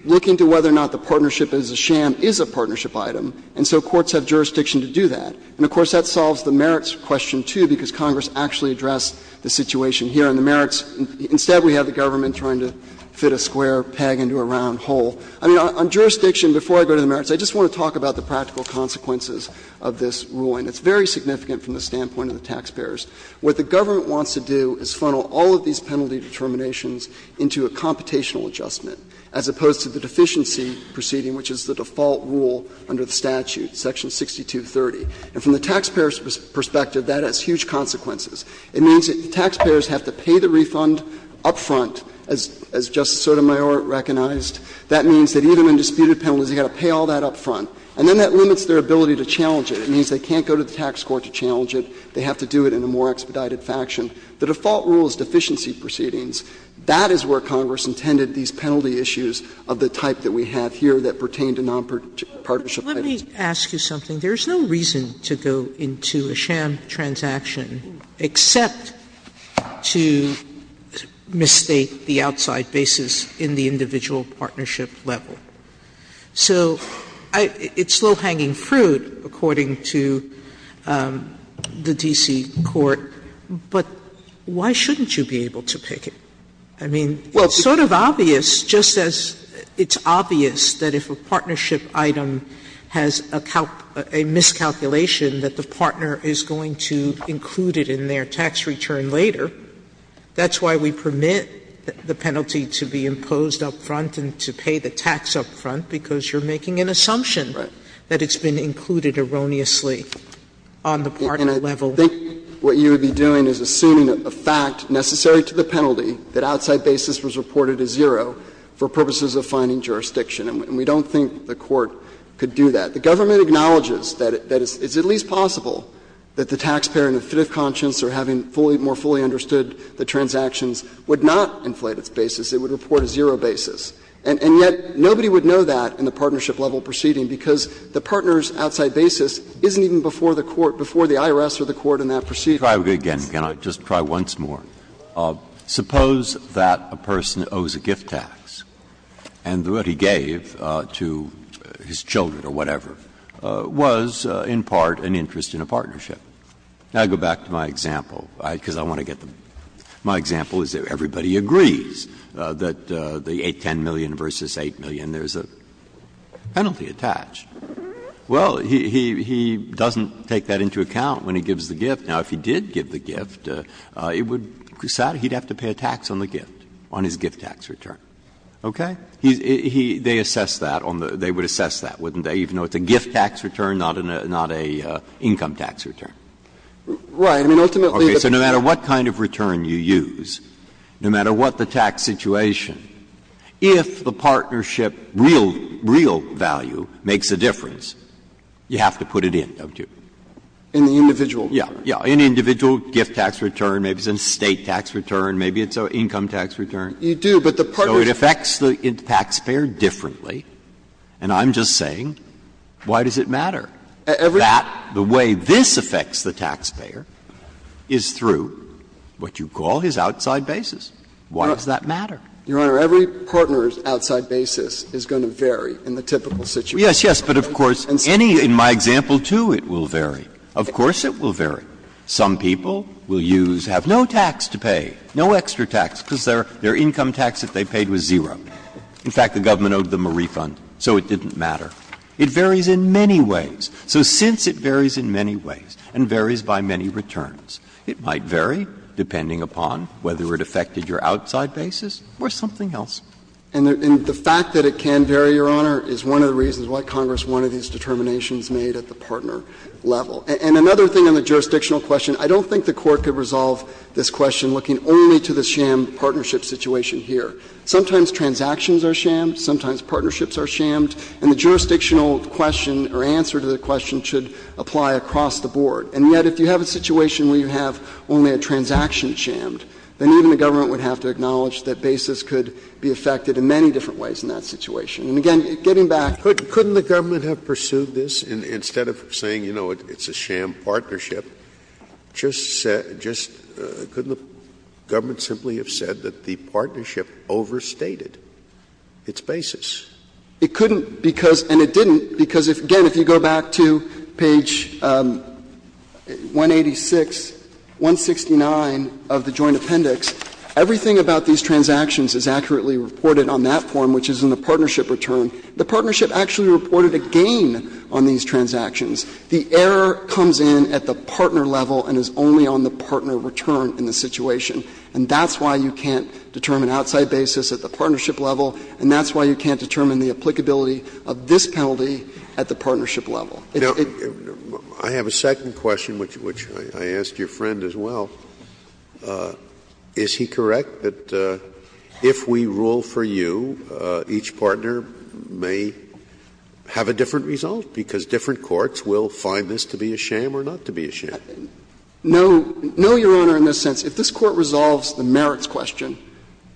looking to whether or not the partnership is a sham is a partnership item, and so courts have jurisdiction to do that. And of course, that solves the merits question, too, because Congress actually addressed the situation here. And the merits, instead we have the government trying to fit a square peg into a round hole. I mean, on jurisdiction, before I go to the merits, I just want to talk about the practical consequences of this ruling. It's very significant from the standpoint of the taxpayers. What the government wants to do is funnel all of these penalty determinations into a computational adjustment, as opposed to the deficiency proceeding, which is the default rule under the statute, section 6230. And from the taxpayer's perspective, that has huge consequences. It means that the taxpayers have to pay the refund up front, as Justice Sotomayor recognized. That means that even in disputed penalties, you have to pay all that up front. And then that limits their ability to challenge it. It means they can't go to the tax court to challenge it. They have to do it in a more expedited faction. The default rule is deficiency proceedings. That is where Congress intended these penalty issues of the type that we have here that pertain to nonpartnership items. Sotomayor, let me ask you something. There is no reason to go into a sham transaction except to mistake the outside basis in the individual partnership level. So it's low-hanging fruit, according to the D.C. court, but why shouldn't you be able to pick it? I mean, it's sort of obvious, just as it's obvious that if a partnership item has a miscalculation that the partner is going to include it in their tax return later. That's why we permit the penalty to be imposed up front and to pay the tax up front, because you're making an assumption that it's been included erroneously on the partner level. And I think what you would be doing is assuming a fact necessary to the penalty that outside basis was reported as zero for purposes of finding jurisdiction. And we don't think the Court could do that. The government acknowledges that it's at least possible that the taxpayer in a fit of anger, if they really understood the transactions, would not inflate its basis. It would report a zero basis. And yet nobody would know that in the partnership level proceeding, because the partner's outside basis isn't even before the court, before the IRS or the court in that proceeding. Breyer, again, can I just try once more? Suppose that a person owes a gift tax and what he gave to his children or whatever was in part an interest in a partnership. Now, I go back to my example, because I want to get the my example is that everybody agrees that the 810 million versus 8 million, there's a penalty attached. Well, he doesn't take that into account when he gives the gift. Now, if he did give the gift, it would be sad. He would have to pay a tax on the gift, on his gift tax return. Okay? They assess that on the they would assess that, wouldn't they, even though it's a gift tax return, not an income tax return? Right. I mean, ultimately the Okay. So no matter what kind of return you use, no matter what the tax situation, if the partnership real value makes a difference, you have to put it in, don't you? In the individual. Yeah. Yeah. In the individual gift tax return, maybe it's a state tax return, maybe it's an income tax return. You do, but the partnership So it affects the taxpayer differently. And I'm just saying, why does it matter? That the way this affects the taxpayer is through what you call his outside basis. Why does that matter? Your Honor, every partner's outside basis is going to vary in the typical situation. Yes, yes. But of course, any of my example too, it will vary. Of course it will vary. Some people will use, have no tax to pay, no extra tax, because their income tax that they paid was zero. In fact, the government owed them a refund, so it didn't matter. It varies in many ways. So since it varies in many ways and varies by many returns, it might vary depending upon whether it affected your outside basis or something else. And the fact that it can vary, Your Honor, is one of the reasons why Congress wanted these determinations made at the partner level. And another thing on the jurisdictional question, I don't think the Court could resolve this question looking only to the sham partnership situation here. Sometimes transactions are shammed, sometimes partnerships are shammed, and the jurisdictional question or answer to the question should apply across the board. And yet if you have a situation where you have only a transaction shammed, then even the government would have to acknowledge that basis could be affected in many different ways in that situation. And again, getting back to the point of the partnership, I think it's a sham partnership. Just couldn't the government simply have said that the partnership overstated its basis? It couldn't because, and it didn't, because, again, if you go back to page 186, 169 of the Joint Appendix, everything about these transactions is accurately reported on that form, which is in the partnership return. The partnership actually reported a gain on these transactions. The error comes in at the partner level and is only on the partner return in the situation. And that's why you can't determine outside basis at the partnership level, and that's why you can't determine the applicability of this penalty at the partnership level. It's a bit of a sham. Scalia, I have a second question, which I asked your friend as well. Is he correct that if we rule for you, each partner may have a different result? Because different courts will find this to be a sham or not to be a sham. No, Your Honor, in this sense. If this Court resolves the merits question,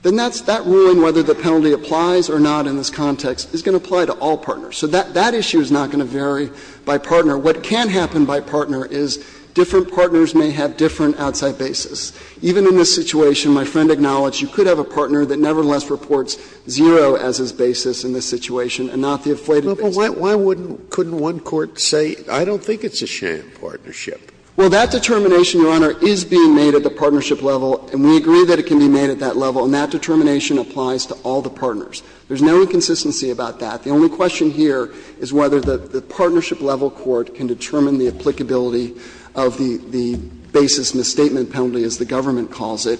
then that's that ruling, whether the penalty applies or not in this context, is going to apply to all partners. So that issue is not going to vary by partner. What can happen by partner is different partners may have different outside basis. Even in this situation, my friend acknowledged you could have a partner that nevertheless reports zero as his basis in this situation and not the inflated basis. Scalia, why wouldn't one court say, I don't think it's a sham partnership? Well, that determination, Your Honor, is being made at the partnership level, and we agree that it can be made at that level, and that determination applies to all the partners. There's no inconsistency about that. The only question here is whether the partnership level court can determine the applicability of the basis misstatement penalty, as the government calls it.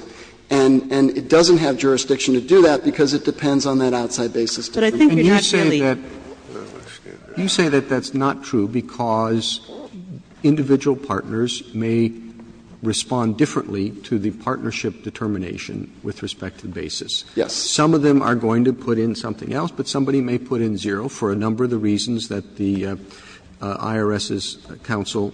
And it doesn't have jurisdiction to do that because it depends on that outside basis. But I think we're not really going to be able to do that. Roberts, can you say that that's not true because individual partners may respond differently to the partnership determination with respect to the basis? Yes. Some of them are going to put in something else, but somebody may put in zero for a number of the reasons that the IRS's counsel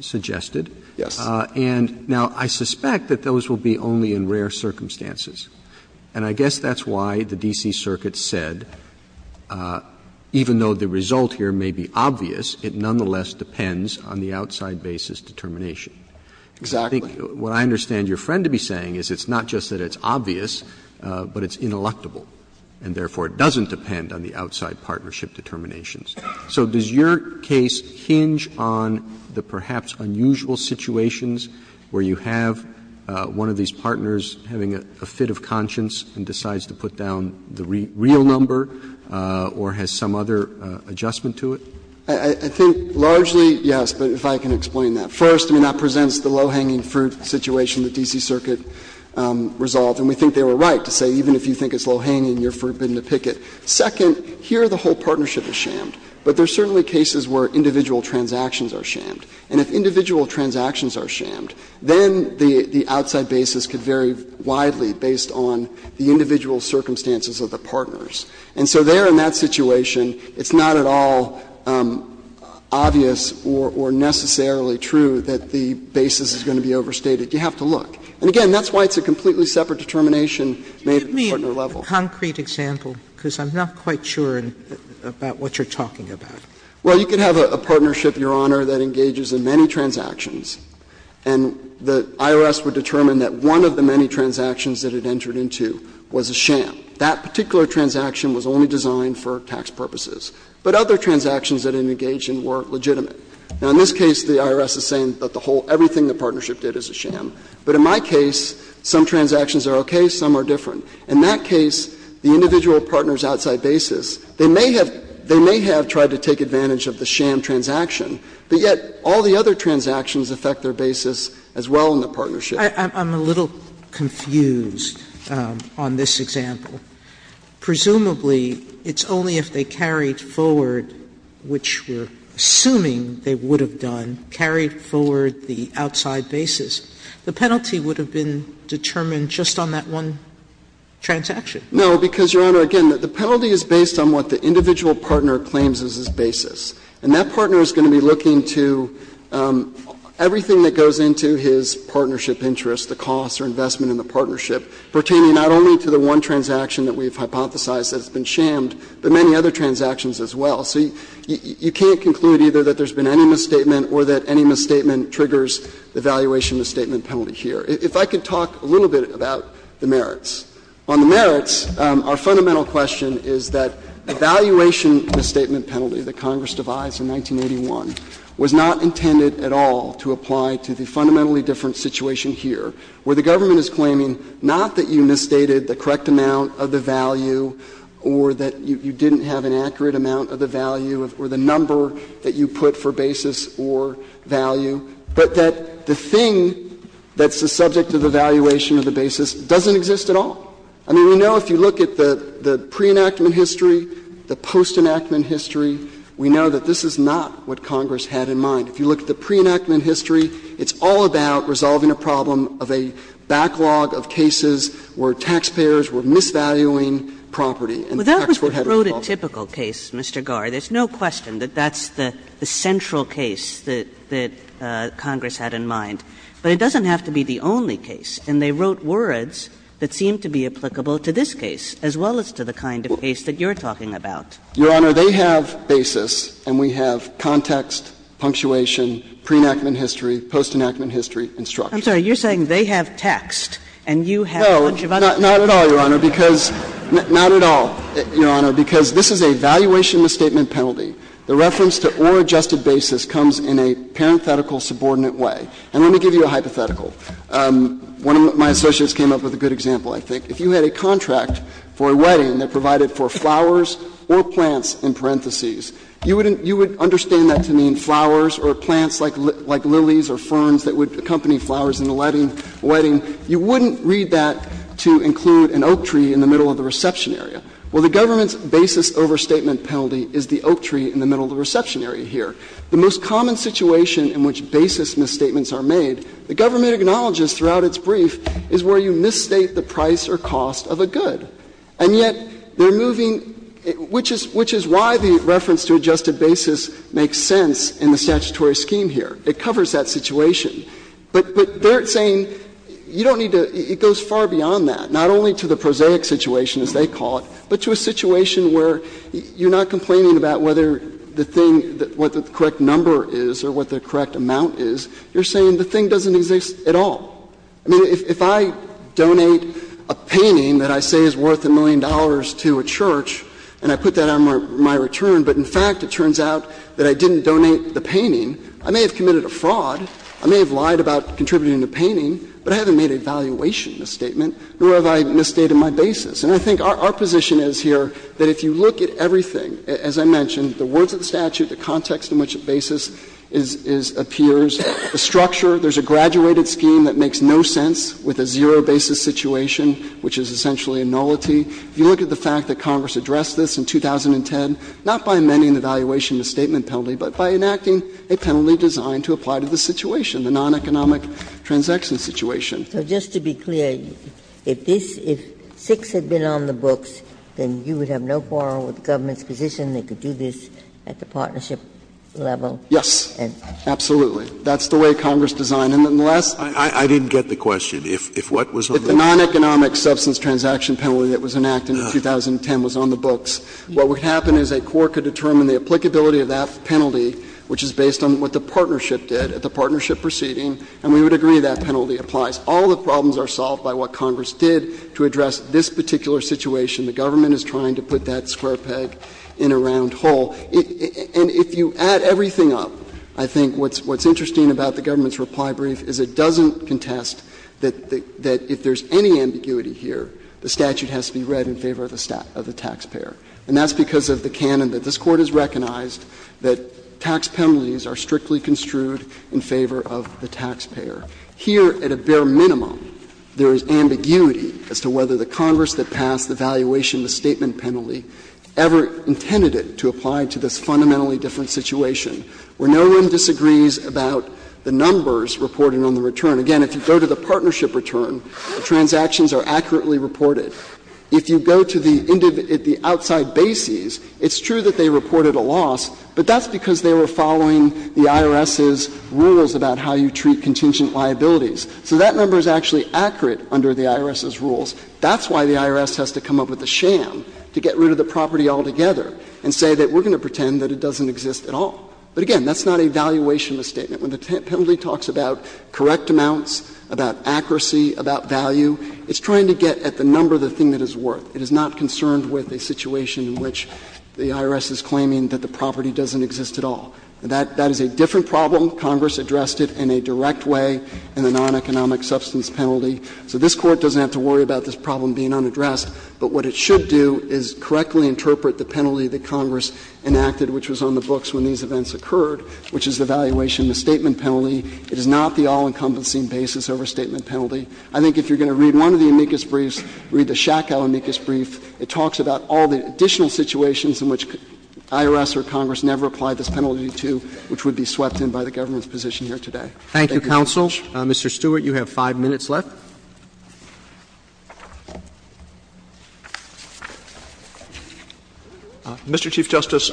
suggested. Yes. And now, I suspect that those will be only in rare circumstances, and I guess that's why the D.C. Circuit said, even though the result here may be obvious, it nonetheless depends on the outside basis determination. Exactly. I think what I understand your friend to be saying is it's not just that it's obvious, but it's ineluctable, and therefore it doesn't depend on the outside partnership determinations. So does your case hinge on the perhaps unusual situations where you have one of these partners having a fit of conscience and decides to put down the real number or has some other adjustment to it? I think largely, yes, but if I can explain that. First, I mean, that presents the low-hanging fruit situation the D.C. Circuit resolved, and we think they were right to say even if you think it's low-hanging, you're forbidden to pick it. Second, here the whole partnership is shammed, but there are certainly cases where individual transactions are shammed. And if individual transactions are shammed, then the outside basis could vary widely based on the individual circumstances of the partners. And so there in that situation, it's not at all obvious or necessarily true that the basis is going to be overstated. You have to look. And again, that's why it's a completely separate determination made at the partner level. Sotomayor, give me a concrete example, because I'm not quite sure about what you're talking about. Well, you could have a partnership, Your Honor, that engages in many transactions, and the IRS would determine that one of the many transactions that it entered into was a sham. That particular transaction was only designed for tax purposes, but other transactions that it engaged in were legitimate. Now, in this case, the IRS is saying that the whole of everything the partnership did is a sham, but in my case, some transactions are okay, some are different. In that case, the individual partners' outside basis, they may have tried to take advantage of the sham transaction, but yet all the other transactions affect their basis as well in the partnership. I'm a little confused on this example. Presumably, it's only if they carried forward, which we're assuming they would have done, carried forward the outside basis, the penalty would have been determined just on that one transaction. No, because, Your Honor, again, the penalty is based on what the individual partner claims is his basis. And that partner is going to be looking to everything that goes into his partnership interest, the cost or investment in the partnership, pertaining not only to the one transaction that we've hypothesized that's been shammed, but many other transactions as well. So you can't conclude either that there's been any misstatement or that any misstatement triggers the valuation misstatement penalty here. If I could talk a little bit about the merits. On the merits, our fundamental question is that a valuation misstatement penalty that Congress devised in 1981 was not intended at all to apply to the fundamentally different situation here, where the government is claiming not that you misstated the correct amount of the value or that you didn't have an accurate amount of the value or the number that you put for basis or value, but that the thing that's subject of the valuation of the basis doesn't exist at all. I mean we know if you look at the pre-enactment history, the post-enactment history, we know that this is not what Congress had in mind. If you look at the pre-enactment history, it's all about resolving a problem of a backlog of cases where taxpayers were misvaluing property, and the tax board had a role to play. Kagan. Kagan. But that's the prototypical case, Mr. Garr. There's no question that that's the central case that, that Congress had in mind. But it doesn't have to be the only case, and they wrote words that seem to be applicable to this case, as well as to the kind of case that you're talking about. Garre, they have basis, and we have context, punctuation, pre-enactment history, post-enactment history, and structure. I'm sorry, you're saying they have text, and you have a bunch of other things. No, not at all, Your Honor, because, not at all, Your Honor, because this is a valuation misstatement penalty. The reference to or adjusted basis comes in a parenthetical subordinate way. And let me give you a hypothetical. One of my associates came up with a good example, I think. If you had a contract for a wedding that provided for flowers or plants in parentheses, you would understand that to mean flowers or plants like lilies or ferns that would accompany flowers in the wedding. You wouldn't read that to include an oak tree in the middle of the reception area. Well, the government's basis overstatement penalty is the oak tree in the middle of the reception area here. The most common situation in which basis misstatements are made, the government acknowledges throughout its brief, is where you misstate the price or cost of a good. And yet, they're moving, which is why the reference to adjusted basis makes sense in the statutory scheme here. It covers that situation. But they're saying you don't need to, it goes far beyond that, not only to the prosaic situation, as they call it, but to a situation where you're not complaining about whether the thing, what the correct number is or what the correct amount is, you're saying the thing doesn't exist at all. I mean, if I donate a painting that I say is worth a million dollars to a church and I put that on my return, but in fact it turns out that I didn't donate the painting, I may have committed a fraud, I may have lied about contributing the painting, but I haven't made a valuation misstatement, nor have I misstated my basis. And I think our position is here that if you look at everything, as I mentioned, the words of the statute, the context on which a basis is appears, the structure, there's a graduated scheme that makes no sense with a zero basis situation, which is essentially a nullity. If you look at the fact that Congress addressed this in 2010, not by amending the valuation misstatement penalty, but by enacting a penalty designed to apply to the situation, the non-economic transaction situation. Ginsburg. So just to be clear, if this, if 6 had been on the books, then you would have no quarrel with the government's position they could do this at the partnership level? Yes, absolutely. That's the way Congress designed it. And the last one. I didn't get the question. If what was on the books? If the non-economic substance transaction penalty that was enacted in 2010 was on the books, what would happen is a court could determine the applicability of that penalty, which is based on what the partnership did at the partnership proceeding, and we would agree that penalty applies. All the problems are solved by what Congress did to address this particular situation. The government is trying to put that square peg in a round hole. And if you add everything up, I think what's interesting about the government's reply brief is it doesn't contest that if there's any ambiguity here, the statute has to be read in favor of the taxpayer. And that's because of the canon that this Court has recognized that tax penalties are strictly construed in favor of the taxpayer. Here, at a bare minimum, there is ambiguity as to whether the Congress that passed the valuation of the statement penalty ever intended it to apply to this fundamentally different situation, where no one disagrees about the numbers reported on the return. Again, if you go to the partnership return, the transactions are accurately reported. If you go to the outside bases, it's true that they reported a loss, but that's because they were following the IRS's rules about how you treat contingent liabilities. So that number is actually accurate under the IRS's rules. That's why the IRS has to come up with a sham to get rid of the property altogether and say that we're going to pretend that it doesn't exist at all. But, again, that's not a valuation of a statement. When the penalty talks about correct amounts, about accuracy, about value, it's trying to get at the number of the thing that it's worth. It is not concerned with a situation in which the IRS is claiming that the property doesn't exist at all. That is a different problem. Congress addressed it in a direct way in the non-economic substance penalty. So this Court doesn't have to worry about this problem being unaddressed. But what it should do is correctly interpret the penalty that Congress enacted, which was on the books when these events occurred, which is the valuation of the statement penalty. It is not the all-encompassing basis over statement penalty. I think if you're going to read one of the amicus briefs, read the Shackle amicus brief, it talks about all the additional situations in which IRS or Congress never applied this penalty to, which would be swept in by the government's position here today. Thank you, Your Honor. Roberts. Roberts. Mr. Stewart, you have 5 minutes left. Stewart. Mr. Chief Justice,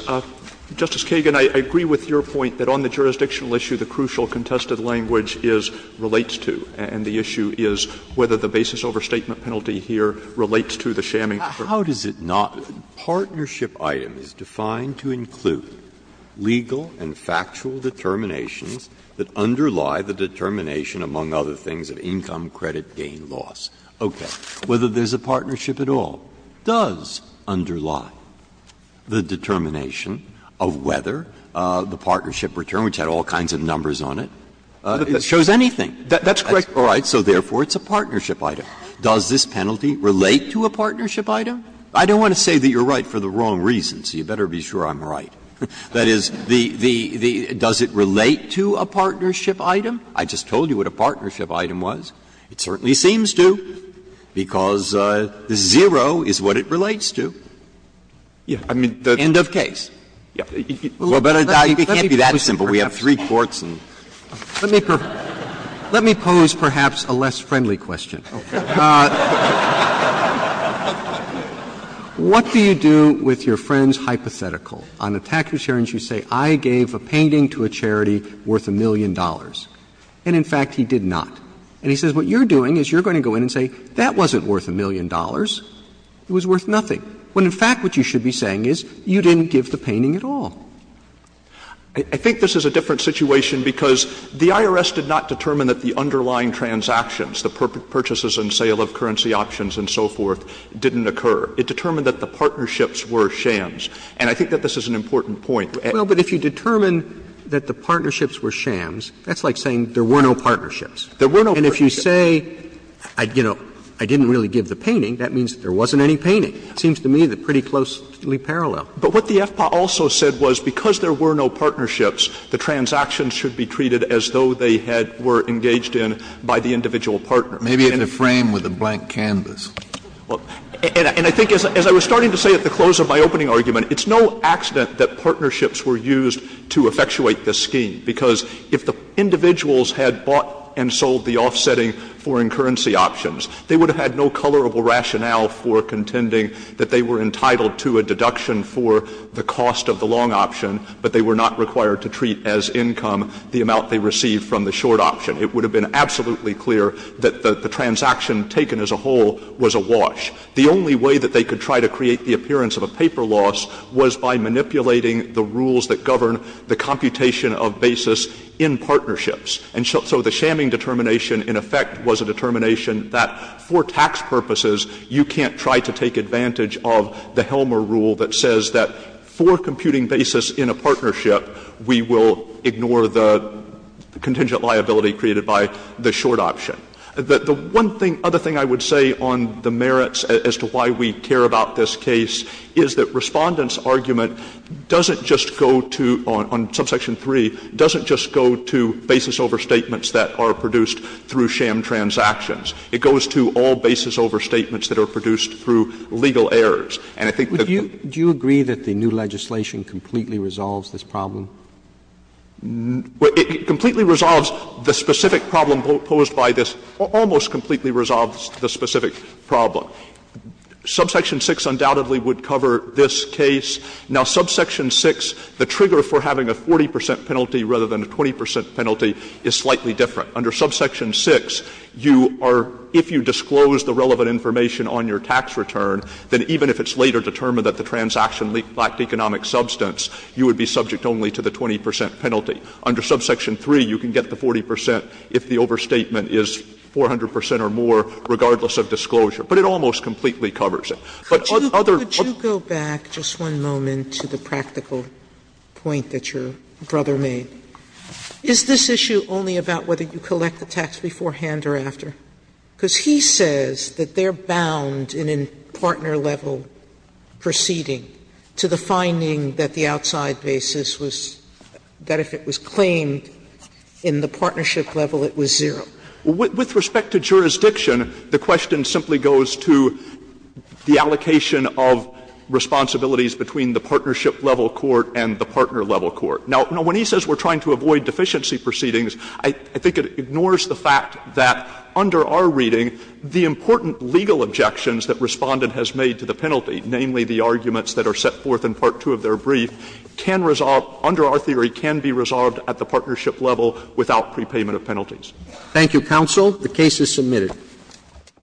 Justice Kagan, I agree with your point that on the jurisdictional issue the crucial contested language is, relates to, and the issue is whether the basis over statement penalty here relates to the shamming. How does it not? A partnership item is defined to include legal and factual determinations that underlie the determination, among other things, of income, credit, gain, loss. Okay. Whether there's a partnership at all does underlie the determination of whether the partnership return, which had all kinds of numbers on it, shows anything. That's correct. All right. So therefore, it's a partnership item. Does this penalty relate to a partnership item? I don't want to say that you're right for the wrong reason, so you better be sure I'm right. That is, the the the does it relate to a partnership item? I just told you what a partnership item was. It certainly seems to, because zero is what it relates to. End of case. Well, but it can't be that simple. We have three courts and. Let me pose perhaps a less friendly question. What do you do with your friend's hypothetical? On a tax return, you say I gave a painting to a charity worth a million dollars. And in fact, he did not. And he says what you're doing is you're going to go in and say that wasn't worth a million dollars. It was worth nothing. When in fact what you should be saying is you didn't give the painting at all. I think this is a different situation because the IRS did not determine that the underlying transactions, the purchases and sale of currency options and so forth, didn't occur. It determined that the partnerships were shams. And I think that this is an important point. Well, but if you determine that the partnerships were shams, that's like saying there were no partnerships. There were no partnerships. And if you say, you know, I didn't really give the painting, that means there wasn't any painting. It seems to me they're pretty closely parallel. But what the FPA also said was because there were no partnerships, the transactions should be treated as though they had been engaged in by the individual partner. Maybe it's a frame with a blank canvas. And I think as I was starting to say at the close of my opening argument, it's no accident that partnerships were used to effectuate this scheme, because if the individuals had bought and sold the offsetting foreign currency options, they would have had no tolerable rationale for contending that they were entitled to a deduction for the cost of the long option, but they were not required to treat as income the amount they received from the short option. It would have been absolutely clear that the transaction taken as a whole was a wash. The only way that they could try to create the appearance of a paper loss was by manipulating the rules that govern the computation of basis in partnerships. And so the shamming determination, in effect, was a determination that for tax purposes, you can't try to take advantage of the Helmer rule that says that for computing basis in a partnership, we will ignore the contingent liability created by the short option. The one thing, other thing I would say on the merits as to why we care about this case is that Respondent's argument doesn't just go to, on subsection 3, doesn't just go to basis overstatements that are produced through sham transactions. It goes to all basis overstatements that are produced through legal errors. And I think that the new legislation completely resolves this problem? It completely resolves the specific problem posed by this, almost completely resolves the specific problem. Subsection 6 undoubtedly would cover this case. Now, subsection 6, the trigger for having a 40 percent penalty rather than a 20 percent penalty is slightly different. Under subsection 6, you are, if you disclose the relevant information on your tax return, then even if it's later determined that the transaction lacked economic substance, you would be subject only to the 20 percent penalty. Under subsection 3, you can get the 40 percent if the overstatement is 400 percent or more, regardless of disclosure. But it almost completely covers it. But other other Sotomayor, could you go back just one moment to the practical point that your brother made? Is this issue only about whether you collect the tax beforehand or after? Because he says that they are bound in a partner level proceeding to the finding that the outside basis was, that if it was claimed in the partnership level, it was zero. With respect to jurisdiction, the question simply goes to the allocation of responsibilities between the partnership level court and the partner level court. Now, when he says we are trying to avoid deficiency proceedings, I think it ignores the fact that under our reading, the important legal objections that Respondent has made to the penalty, namely the arguments that are set forth in part 2 of their brief, can resolve, under our theory, can be resolved at the partnership level without prepayment of penalties. Thank you, counsel. The case is submitted.